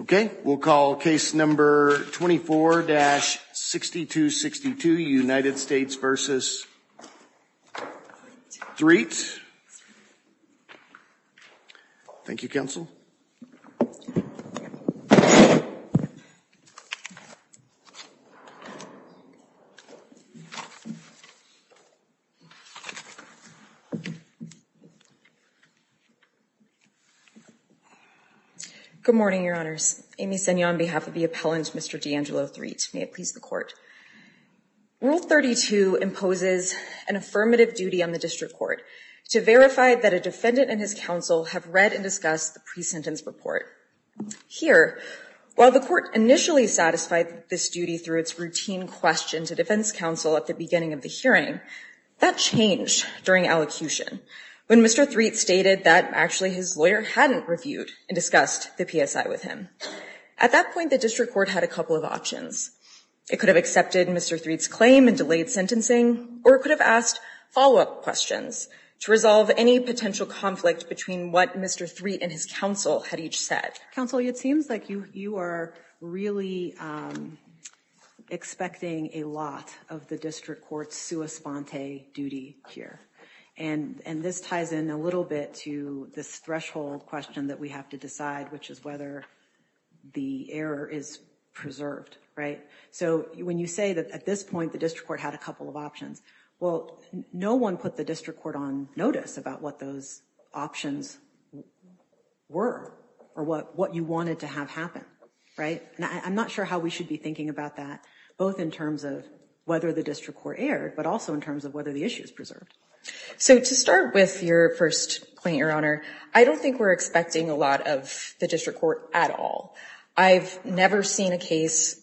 okay we'll call case number 24-6262 United States v. Threatt thank you counsel good morning your honors amy senio on behalf of the appellant mr. D'Angelo Threatt may it please the court rule 32 imposes an affirmative duty on the district court to verify that a defendant and his counsel have read and discussed the pre-sentence report here while the court initially satisfied this duty through its routine question to defense counsel at the beginning of the hearing that changed during allocution when mr. Threatt stated that actually his lawyer hadn't reviewed and discussed the PSI with him at that point the district court had a couple of options it could have accepted mr. Threatt's claim and delayed sentencing or it could have asked follow-up questions to resolve any potential conflict between what mr. Threatt and his counsel had each said counsel it seems like you you are really expecting a lot of the district courts sua sponte duty here and and this ties in a little bit to this threshold question that we have to decide which is whether the error is preserved right so when you say that at this point the district court had a couple of options well no one put the district court on notice about what those options were or what what you wanted to have happen right now I'm not sure how we should be thinking about that both in terms of whether the district court erred but also in terms of whether the issue is preserved so to with your first point your honor I don't think we're expecting a lot of the district court at all I've never seen a case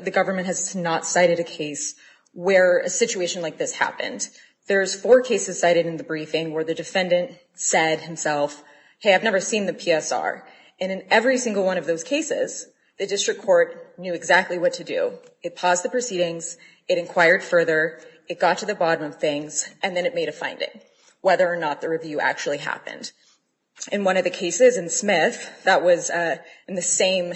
the government has not cited a case where a situation like this happened there's four cases cited in the briefing where the defendant said himself hey I've never seen the PSR and in every single one of those cases the district court knew exactly what to do it paused the proceedings it inquired further it got to the bottom of things and then it a finding whether or not the review actually happened in one of the cases and Smith that was in the same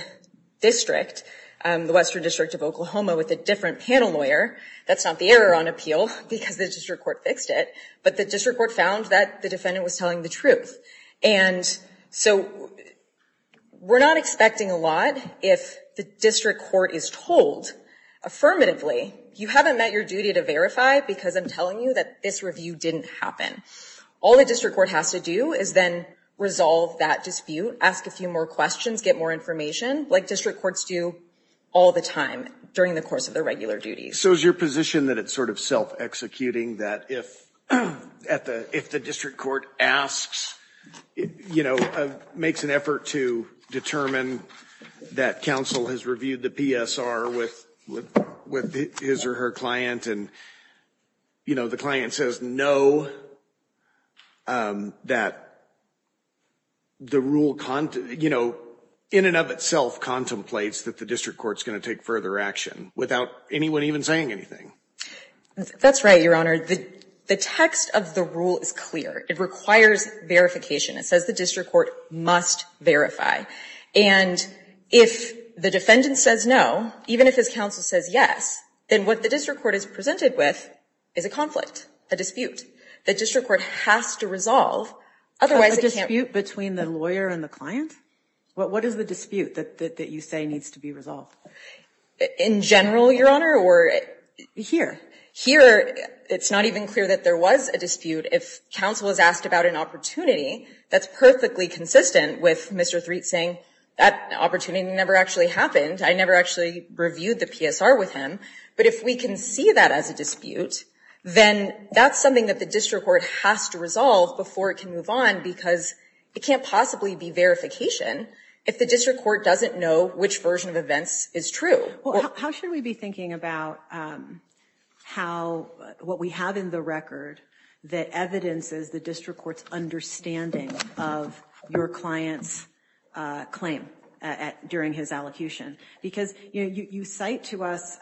district the Western District of Oklahoma with a different panel lawyer that's not the error on appeal because the district court fixed it but the district court found that the defendant was telling the truth and so we're not expecting a lot if the district court is told affirmatively you haven't met your duty to verify because I'm telling you that this review didn't happen all the district court has to do is then resolve that dispute ask a few more questions get more information like district courts do all the time during the course of the regular duties so is your position that it's sort of self-executing that if at the if the district court asks you know makes an effort to determine that counsel has reviewed the PSR with with his or her client and you know the client says no that the rule content you know in and of itself contemplates that the district courts going to take further action without anyone even saying anything that's right your honor the the text of the rule is clear it requires verification it says the district court must verify and if the defendant says no even if his counsel says yes then what the district court is presented with is a conflict a dispute the district court has to resolve otherwise it can't be between the lawyer and the client what is the dispute that you say needs to be resolved in general your honor or here here it's not even clear that there was a dispute if counsel is asked about an opportunity that's perfectly consistent with mr. three saying that opportunity never actually happened I never actually reviewed the PSR with him but if we can see that as a dispute then that's something that the district court has to resolve before it can move on because it can't possibly be verification if the district court doesn't know which version of events is true how should we be thinking about how what we have in the record that evidences the district court's understanding of your clients claim at during his allocution because you know you cite to us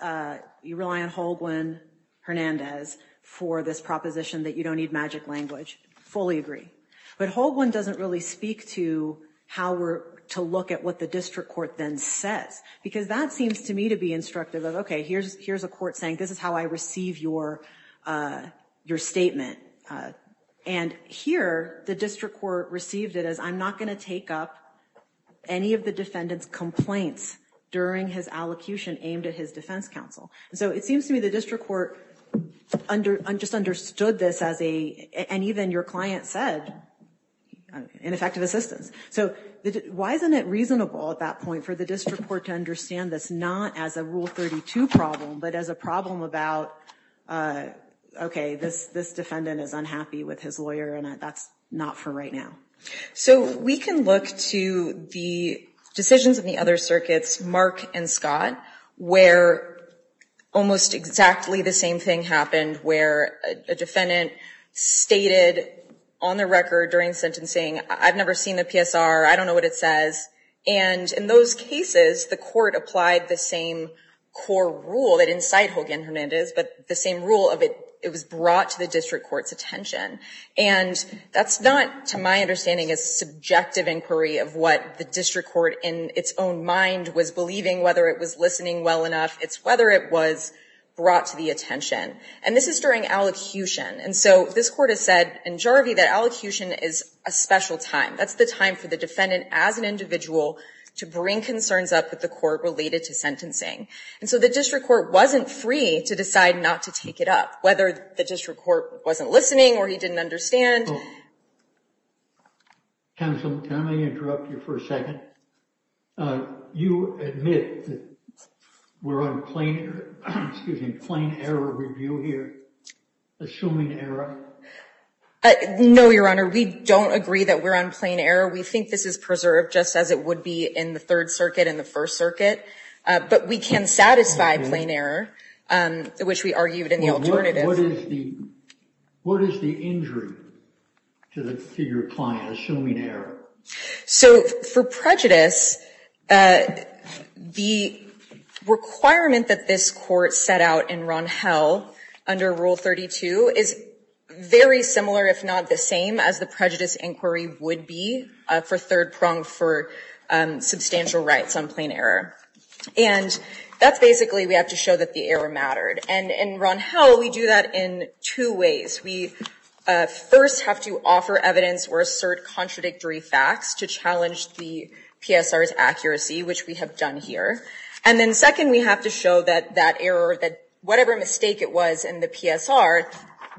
you rely on Holguin Hernandez for this proposition that you don't need magic language fully agree but Holguin doesn't really speak to how we're to look at what the district court then says because that seems to me to be instructive of okay here's here's a court saying this is how I receive your your statement and here the district court received it as I'm not going to take up any of the defendants complaints during his allocution aimed at his defense counsel so it seems to me the district court under just understood this as a and even your client said ineffective assistance so why isn't it reasonable at that point for the district court to understand this not as a rule 32 problem but as a problem about okay this this defendant is unhappy with his lawyer and that's not for right now so we can look to the decisions of the other circuits mark and Scott where almost exactly the same thing happened where a defendant stated on the record during sentencing I've never seen the I don't know what it says and in those cases the court applied the same core rule that inside Hogan Hernandez but the same rule of it it was brought to the district courts attention and that's not to my understanding is subjective inquiry of what the district court in its own mind was believing whether it was listening well enough it's whether it was brought to the attention and this is during allocution and so this court has said in Jarvie that allocution is a special time that's the time for the defendant as an individual to bring concerns up with the court related to sentencing and so the district court wasn't free to decide not to take it up whether the district court wasn't listening or he didn't understand counsel can I interrupt you for a second you admit we're on plain excuse me assuming error I know your honor we don't agree that we're on plain error we think this is preserved just as it would be in the Third Circuit in the First Circuit but we can satisfy plain error which we argued in the alternative what is the injury to the figure client assuming error so for prejudice the requirement that this court set out in Ron how under rule 32 is very similar if not the same as the prejudice inquiry would be for third prong for substantial rights on plain error and that's basically we have to show that the error mattered and in Ron how we do that in two ways we first have to offer evidence or assert contradictory facts to challenge the PSR is accuracy which we have done here and then second we have to show that that error that whatever mistake it was in the PSR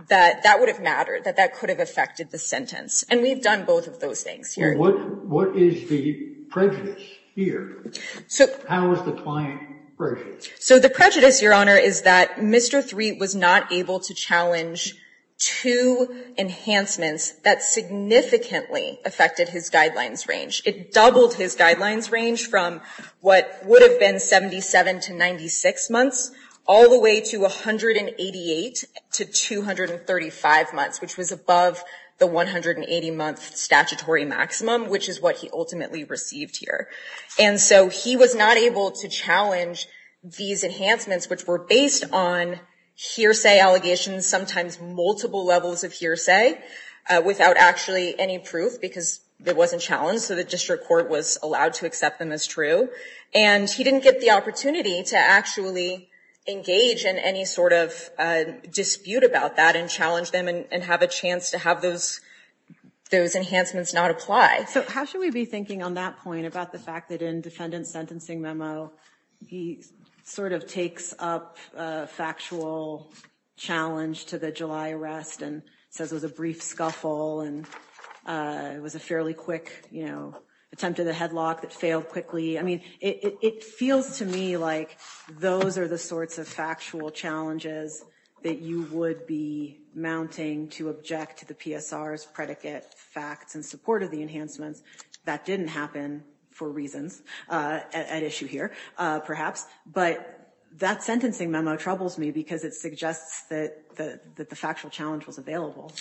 that that would have mattered that that could have affected the sentence and we've done both of those things here what what is the prejudice here so how is the client so the prejudice your honor is that mr. three was not able to challenge two enhancements that significantly affected his guidelines range it doubled his guidelines range from what would have been 77 to 96 months all the way to 188 to 235 months which was above the 180 month statutory maximum which is what he ultimately received here and so he was not able to challenge these enhancements which were based on hearsay allegations sometimes multiple levels of hearsay without actually any proof because it wasn't challenged so the district court was allowed to accept them as true and he didn't get the opportunity to actually engage in any sort of dispute about that and challenge them and have a chance to have those those enhancements not apply so how should we be thinking on that point about the fact that in memo he sort of takes up factual challenge to the July arrest and says there's a brief scuffle and it was a fairly quick you know attempt to the headlock that failed quickly I mean it feels to me like those are the sorts of factual challenges that you would be mounting to object to the PSR as predicate facts and support of the enhancements that didn't happen for reasons at issue here perhaps but that sentencing memo troubles me because it suggests that the factual challenge was available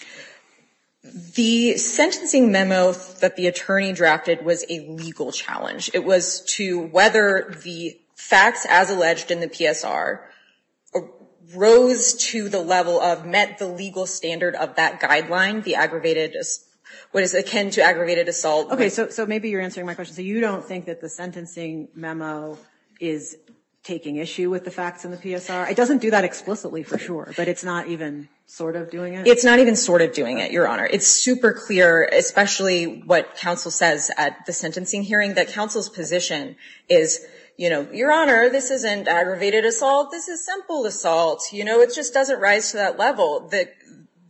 the sentencing memo that the attorney drafted was a legal challenge it was to whether the facts as alleged in the PSR rose to the level of met the legal standard of that guideline the aggravated just what is akin to aggravated assault okay so maybe you're my question so you don't think that the sentencing memo is taking issue with the facts in the PSR it doesn't do that explicitly for sure but it's not even sort of doing it it's not even sort of doing it your honor it's super clear especially what counsel says at the sentencing hearing that counsel's position is you know your honor this isn't aggravated assault this is simple assault you know it just doesn't rise to that level that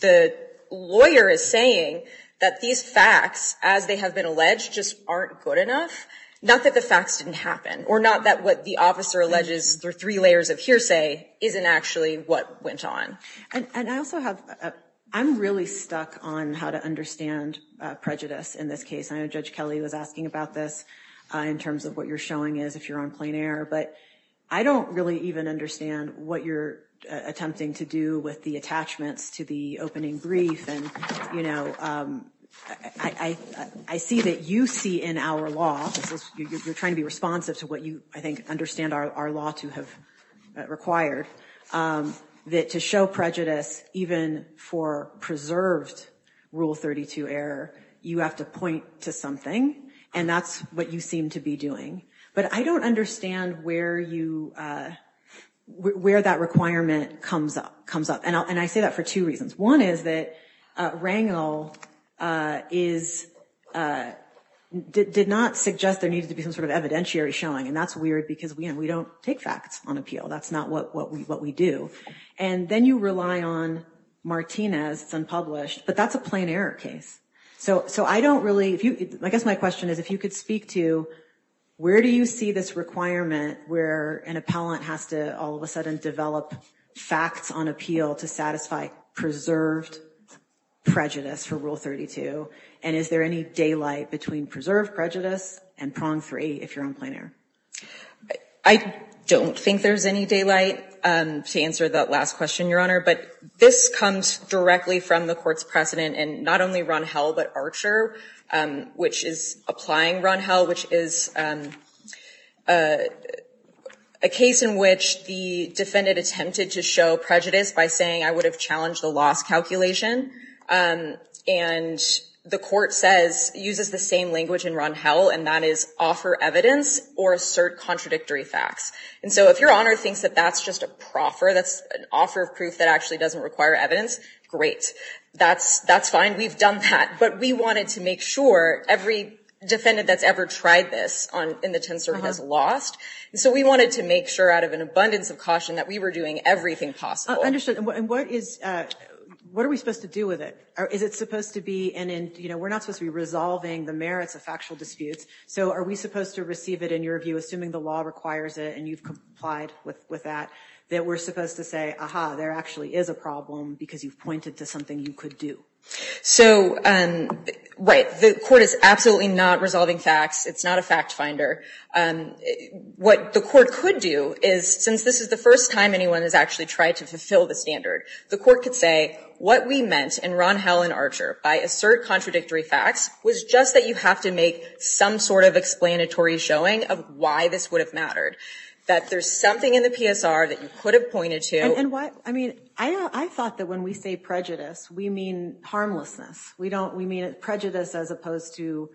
the lawyer is saying that these facts as they have been alleged just aren't good enough not that the facts didn't happen or not that what the officer alleges there are three layers of hearsay isn't actually what went on and I also have I'm really stuck on how to understand prejudice in this case I know judge Kelly was asking about this in terms of what you're showing is if you're on plain air but I don't really even understand what you're attempting to do with the attachments to the opening brief and you know I I see that you see in our law you're trying to be responsive to what you I think understand our law to have required that to show prejudice even for preserved rule 32 error you have to point to something and that's what you seem to be doing but I don't understand where you where that requirement comes up comes up and I say that for two reasons one is that Rangel is did not suggest there needs to be some sort of evidentiary showing and that's weird because we don't take facts on appeal that's not what we what we do and then you rely on Martinez it's unpublished but that's a plain error case so so I don't really if you I guess my question is if you could speak to where do you see this requirement where an appellant has to all of a sudden develop facts on appeal to satisfy preserved prejudice for rule 32 and is there any daylight between preserved prejudice and prong 3 if you're on plane air I don't think there's any daylight to answer that last question your honor but this comes directly from the court's precedent and not only run hell but Archer which is applying run hell which is a case in which the defendant attempted to show prejudice by saying I would have challenged the loss calculation and the court says uses the same language in run hell and that is offer evidence or assert contradictory facts and so if your honor thinks that that's just a proffer that's an offer of proof that actually doesn't require evidence great that's that's fine we've done that but we wanted to make sure every defendant that's ever tried this on in the tensor has lost so we wanted to make sure out of an abundance of caution that we were doing everything possible understood and what is what are we supposed to do with it is it supposed to be and in you know we're not supposed to be resolving the merits of factual disputes so are we supposed to receive it in your view assuming the law requires it and you've complied with with that that we're supposed to say aha there actually is a problem because you've pointed to something you could do so and right the court is absolutely not resolving facts it's not a fact finder and what the court could do is since this is the first time anyone has actually tried to fulfill the standard the court could say what we meant in Ron Helen Archer by assert contradictory facts was just that you have to make some sort of explanatory showing of why this would have mattered that there's something in the PSR that you could have pointed to and what I mean I thought that when we say prejudice we mean harmlessness we don't we mean it prejudice as opposed to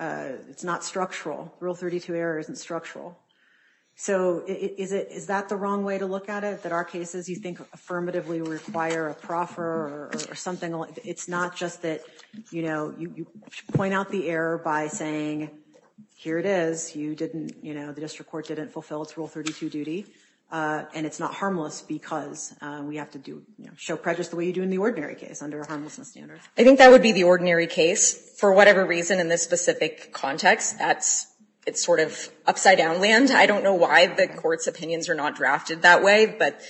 it's not structural rule 32 error isn't structural so is it is that the wrong way to look at it that our cases you think affirmatively require a proffer or something it's not just that you know you point out the error by saying here it is you didn't you know the district court didn't fulfill its rule 32 duty and it's not harmless because we have to do you know show prejudice the way you do in the ordinary case under a harmlessness standard I think that would be the ordinary case for whatever reason in this specific context that's it's sort of upside down land I don't know why the court's opinions are not drafted that way but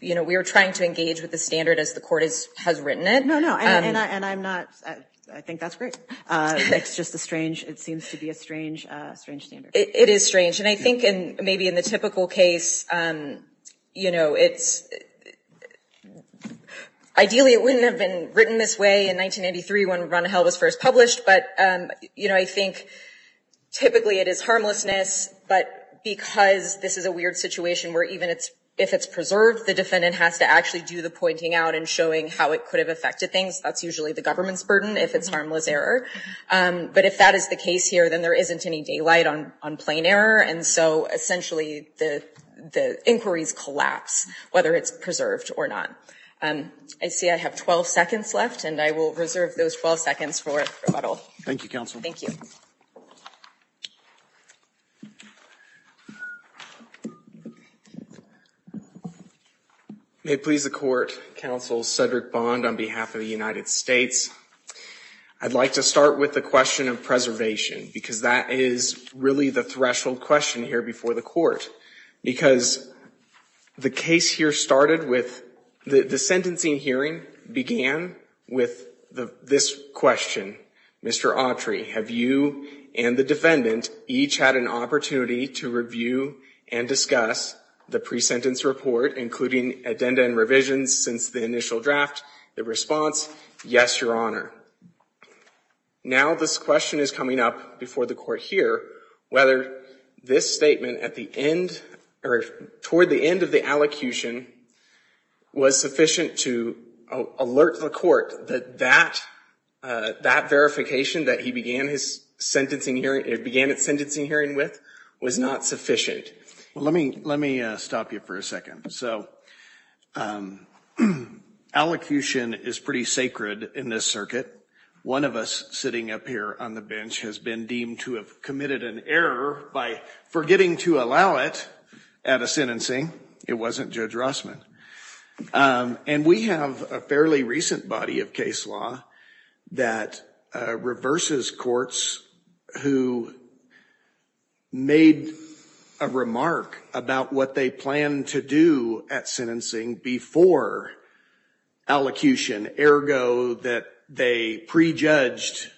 you know we are trying to engage with the standard as the court is has written it no no and I'm not I think that's great it's just a strange it seems to be a I think and maybe in the typical case you know it's ideally it wouldn't have been written this way in 1993 when run hell was first published but you know I think typically it is harmlessness but because this is a weird situation where even it's if it's preserved the defendant has to actually do the pointing out and showing how it could have affected things that's usually the government's burden if it's harmless error but if that is the case here then there isn't any daylight on on plain error and so essentially the the inquiries collapse whether it's preserved or not and I see I have 12 seconds left and I will reserve those 12 seconds for a little Thank You counsel thank you may please the court counsel Cedric bond on behalf of the United States I'd like to start with the question of preservation because that is really the threshold question here before the court because the case here started with the the sentencing hearing began with the this question mr. Autry have you and the defendant each had an opportunity to review and discuss the pre-sentence report including addenda and revisions since the initial draft the response yes your honor now this question is coming up before the court here whether this statement at the end or toward the end of the allocution was sufficient to alert the court that that that verification that he began his sentencing hearing it began its sentencing hearing with was not sufficient well let me let me stop you for a second so allocution is pretty sacred in this circuit one of us sitting up here on the bench has been deemed to have committed an error by forgetting to allow it at a sentencing it wasn't judge Rossman and we have a fairly recent body of case law that reverses courts who made a remark about what they plan to do at sentencing before allocution ergo that they prejudged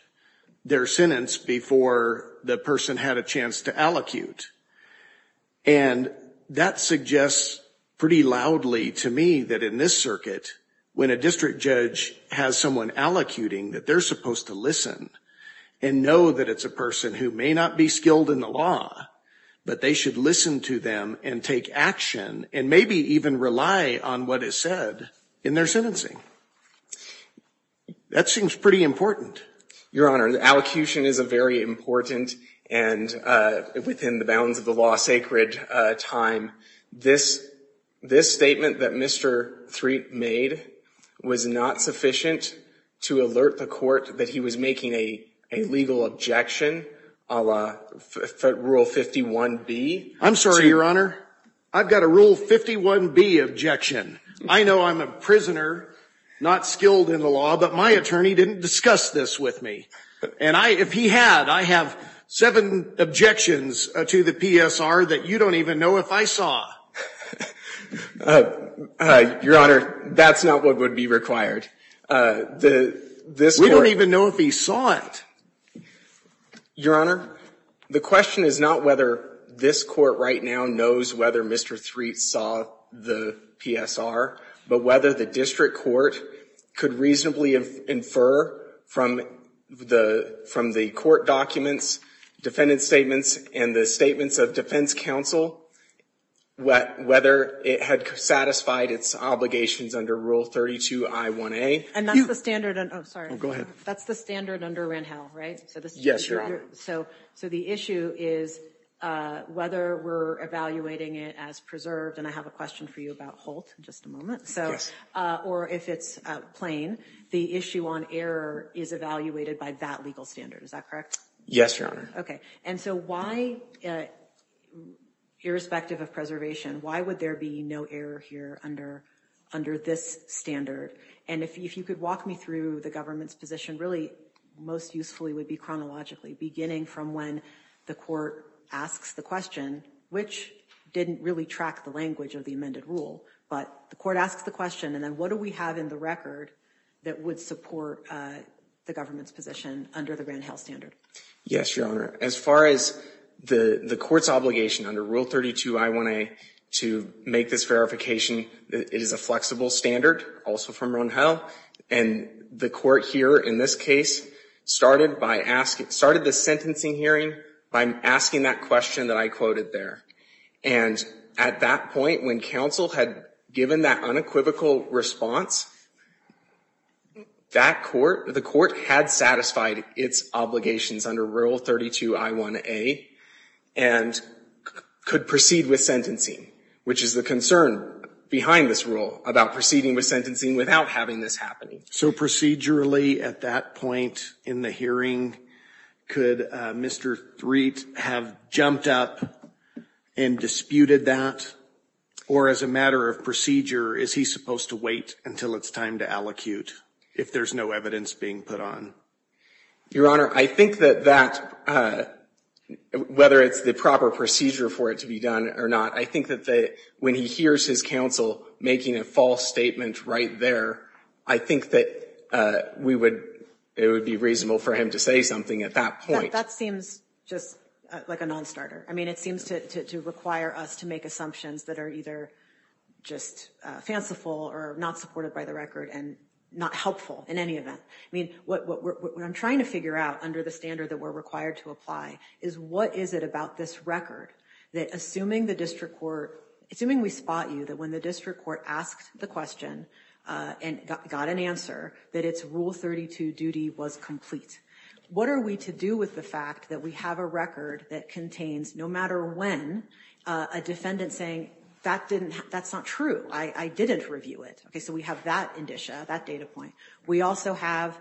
their sentence before the person had a chance to allocute and that suggests pretty loudly to me that in this circuit when a district judge has someone allocuting that they're supposed to listen and know that it's a person who may not be skilled in the law but they should listen to them and take action and maybe even rely on what is said in their sentencing that seems pretty important your honor the allocution is a very important and within the bounds of the law sacred time this this statement that mr. three made was not sufficient to alert the court that he was making a legal objection Allah rule 51 B I'm your honor I've got a rule 51 B objection I know I'm a prisoner not skilled in the law but my attorney didn't discuss this with me and I if he had I have seven objections to the PSR that you don't even know if I saw your honor that's not what would be required the this we don't even know if he saw it your honor the question is not whether this court right now knows whether mr. three saw the PSR but whether the district court could reasonably infer from the from the court documents defendant statements and the statements of defense counsel what whether it had satisfied its obligations under rule 32 I 1a and that's the standard and I'm sorry go ahead that's the standard under ran hell right so so so the issue is whether we're evaluating it as preserved and I have a question for you about Holt just a moment so or if it's plain the issue on error is evaluated by that legal standard is that correct yes your honor okay and so why irrespective of preservation why would there be no error here under under this standard and if you could walk me through the government's position really most usefully would be chronologically beginning from when the court asks the question which didn't really track the language of the amended rule but the court asks the question and then what do we have in the record that would support the government's position under the grand hell standard yes your honor as far as the the court's obligation under rule 32 I want to make this verification it is a flexible standard also from run hell and the court here in this case started by asking started the sentencing hearing I'm asking that question that I quoted there and at that point when counsel had given that unequivocal response that court the court had satisfied its obligations under rule 32 I 1a and could proceed with sentencing which is the concern behind this rule about proceeding with sentencing without having this happening so procedurally at that point in the hearing could mr. Threat have jumped up and disputed that or as a matter of procedure is he supposed to wait until it's time to allocute if there's no evidence being put on your honor I think that that whether it's the proper procedure for it to be done or not I think that they when he hears his counsel making a false statement right there I think that we would it would be reasonable for him to say something at that point that seems just like a non-starter I mean it seems to require us to make assumptions that are either just fanciful or not supported by the record and not helpful in any event I mean what I'm trying to figure out under the standard that we're required to apply is what is it about this record that assuming the district court assuming we spot you that when the district court asked the question and got an answer that it's rule 32 duty was complete what are we to do with the fact that we have a record that contains no matter when a defendant saying that didn't that's not true I I didn't review it okay so we have that indicia that data point we also have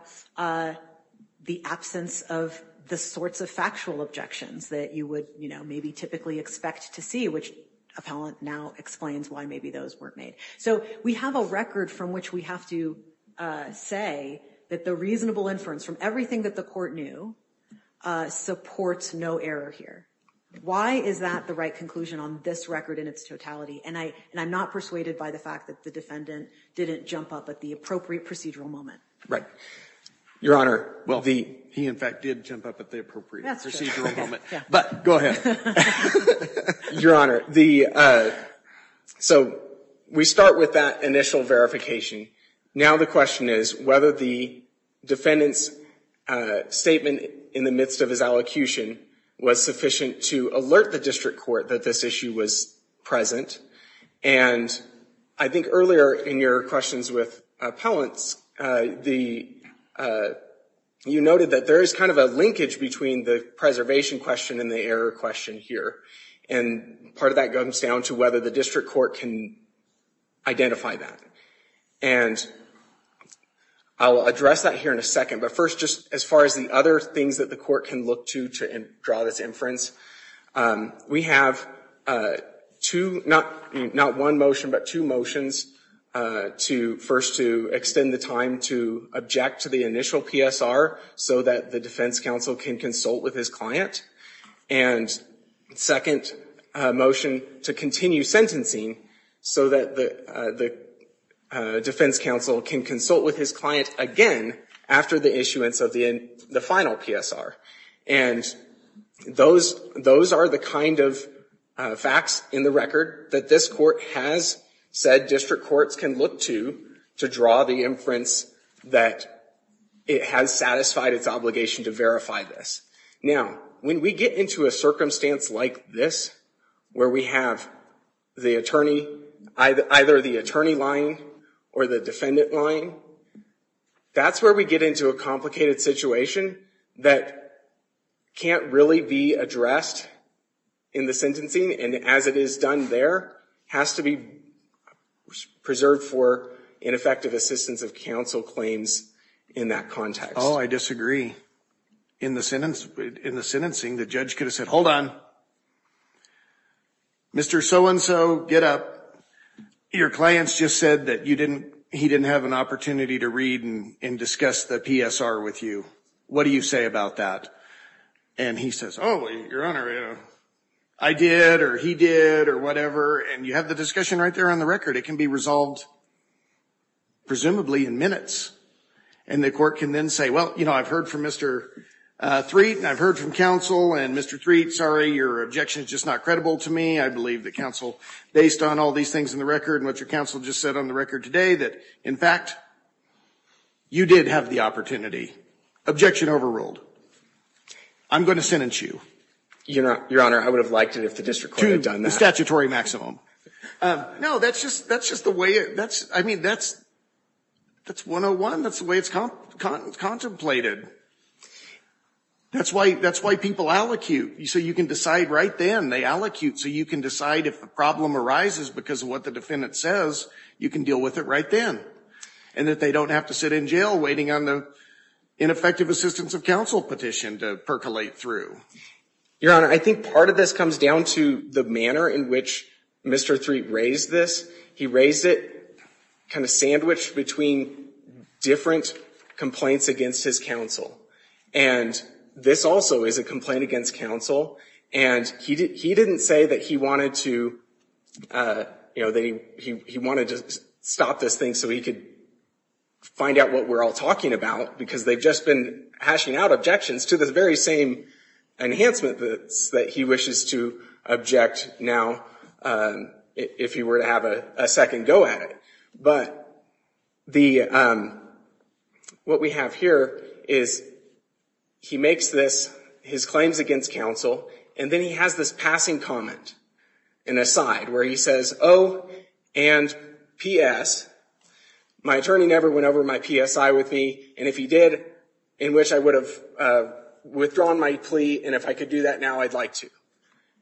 the absence of the sorts of factual objections that you would you know maybe typically expect to which appellant now explains why maybe those weren't made so we have a record from which we have to say that the reasonable inference from everything that the court knew supports no error here why is that the right conclusion on this record in its totality and I and I'm not persuaded by the fact that the defendant didn't jump up at the appropriate procedural moment right your honor well he in fact did jump up at the appropriate but go ahead your honor the so we start with that initial verification now the question is whether the defendants statement in the midst of his allocution was sufficient to alert the district court that this issue was present and I think earlier in your questions with appellants the you noted that there is kind of a linkage between the preservation question and the error question here and part of that comes down to whether the district court can identify that and I'll address that here in a second but first just as far as the other things that the court can look to draw this inference we have to not not one motion but two motions to first to extend the time to object to the initial PSR so that the defense counsel can consult with his client and second motion to continue sentencing so that the the defense counsel can consult with his client again after the issuance of the final PSR and those those are the kind of facts in the record that this court has said district courts can look to to draw the inference that it has satisfied its obligation to verify this now when we get into a circumstance like this where we have the attorney either the attorney line or the defendant line that's where we get into a complicated situation that can't really be addressed in the sentencing and as it is done there has to be preserved for ineffective assistance of counsel claims in that context oh I disagree in the sentence in the sentencing the judge could have said hold on mr. so-and-so get up your clients just said that you didn't he didn't have an opportunity to read and discuss the PSR with you what do you say about that and he says oh I did or he did or whatever and you have the discussion right there on the record it can be resolved presumably in minutes and the court can then say well you know I've heard from mr. three and I've heard from counsel and mr. three sorry your objection is just not credible to me I believe that counsel based on all these things in the record and what your counsel just said on the record today that in fact you did have the opportunity objection overruled I'm going to sentence you you know your honor I would have liked it if the district would have done the statutory maximum no that's just that's just the way it that's I mean that's that's 101 that's the way it's contemplated that's why that's why people allocute you so you can decide right then they allocute so you can decide if the problem arises because of what the defendant says you can deal with it right then and that they don't have to sit in jail waiting on the ineffective assistance of counsel petition to percolate through your honor I think part of this comes down to the manner in which mr. three raised this he raised it kind of sandwiched between different complaints against his counsel and this also is a complaint against counsel and he did he didn't say that he wanted to you know they he wanted to stop this thing so he could find out what we're all talking about because they've just been hashing out objections to the very same enhancement that's that he wishes to object now if he were to have a second go at it but the what we have here is he makes this his claims against counsel and then he has this passing comment in a side where he says oh and PS my attorney never went over my PSI with me and if he did in which I would have withdrawn my plea and if I could do that now I'd like to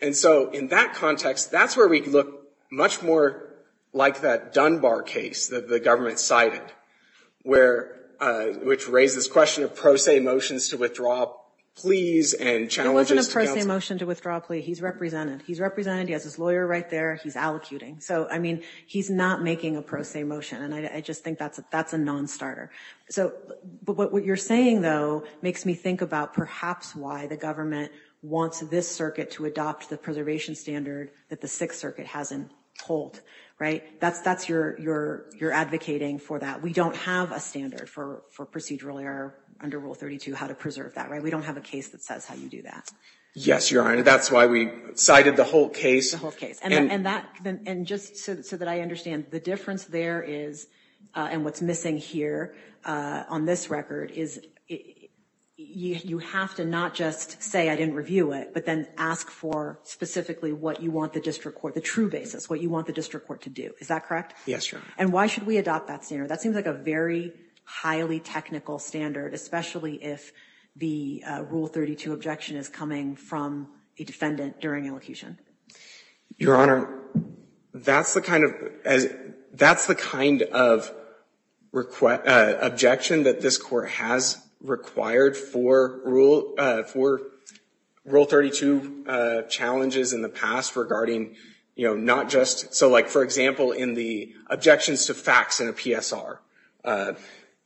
and so in that context that's where we can look much more like that Dunbar case that the government cited where which raises question of motions to withdraw please and motion to withdraw plea he's represented he's represented he has his lawyer right there he's allocuting so I mean he's not making a pro se motion and I just think that's that's a non-starter so but what what you're saying though makes me think about perhaps why the government wants this circuit to adopt the preservation standard that the Sixth Circuit hasn't told right that's that's your your you're advocating for that we don't have a standard for for procedural error under rule 32 how to preserve that right we don't have a case that says how you do that yes your honor that's why we cited the whole case okay and that and just so that I understand the difference there is and what's missing here on this record is you have to not just say I didn't review it but then ask for specifically what you want the district court the true basis what you want the district court to do is that correct yes and why should we adopt that standard that seems like a very highly technical standard especially if the rule 32 objection is coming from a defendant during elocution your honor that's the kind of as that's the kind of request objection that this court has required for rule for rule 32 challenges in the past regarding you know not just so like for example in the objections to facts in a PSR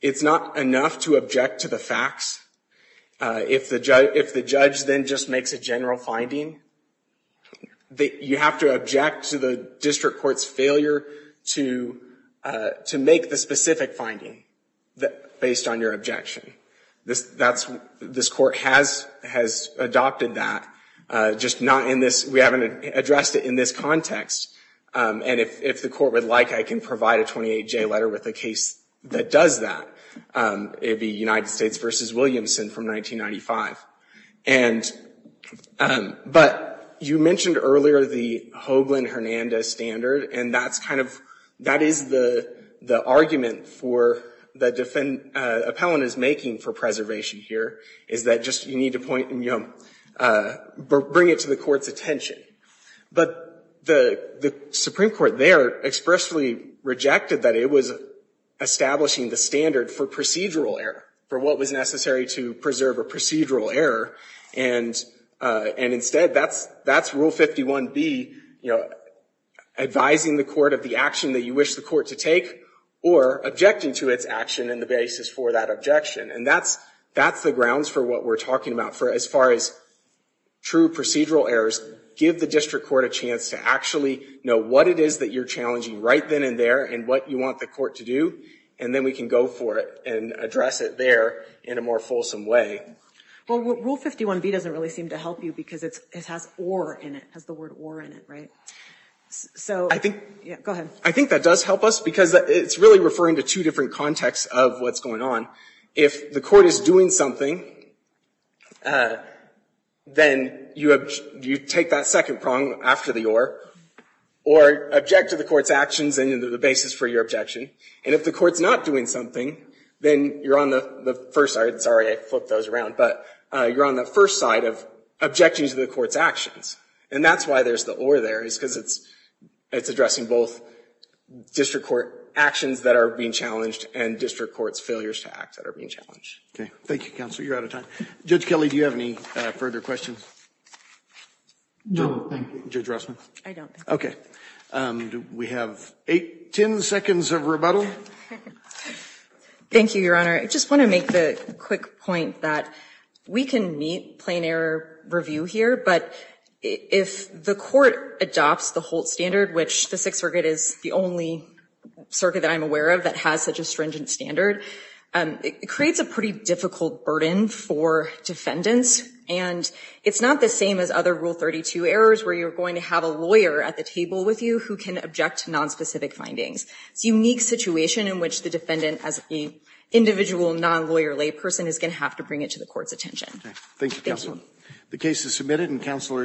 it's not enough to object to the facts if the judge if the judge then just makes a general finding that you have to object to the district courts failure to to make the specific finding that based on your objection this that's this court has has adopted that just not in this we haven't addressed it in this context and if the court would like I can provide a 28 J letter with a case that does that it'd be United States versus Williamson from 1995 and but you mentioned earlier the Hoagland Hernandez standard and that's kind of that is the the argument for the defendant appellant is making for preservation here is that just you need to point and you know bring it to the court's attention but the the Supreme Court there expressly rejected that it was establishing the standard for procedural error for what was necessary to preserve a procedural error and and instead that's that's rule 51 be you advising the court of the action that you wish the court to take or objecting to its action and the basis for that objection and that's that's the grounds for what we're talking about for as far as true procedural errors give the district court a chance to actually know what it is that you're challenging right then and there and what you want the court to do and then we can go for it and address it there in a more fulsome way well rule 51 B doesn't really seem to help you because it has or in it has the word war in it right so I think yeah go ahead I think that does help us because it's really referring to two different contexts of what's going on if the court is doing something then you have you take that second prong after the or or object to the court's actions and into the basis for your objection and if the court's not doing something then you're on the first side sorry I flipped those around but you're on the first side of objecting to the court's actions and that's why there's the or there is because it's it's addressing both district court actions that are being challenged and district courts failures to act that are being challenged okay thank you counselor you're out of time judge Kelly do you have any further questions okay we have eight ten seconds of rebuttal thank you your honor I just want to make the quick point that we can meet plain error review here but if the court adopts the Holt standard which the Sixth Circuit is the only circuit that I'm aware of that has such a stringent standard it creates a pretty difficult burden for defendants and it's not the same as other rule 32 errors where you're going to have a lawyer at the table with you who can object to nonspecific findings it's a unique situation in which the defendant as a individual non-lawyer lay person is going to have to bring it to the court's attention thank you the case is submitted and counselor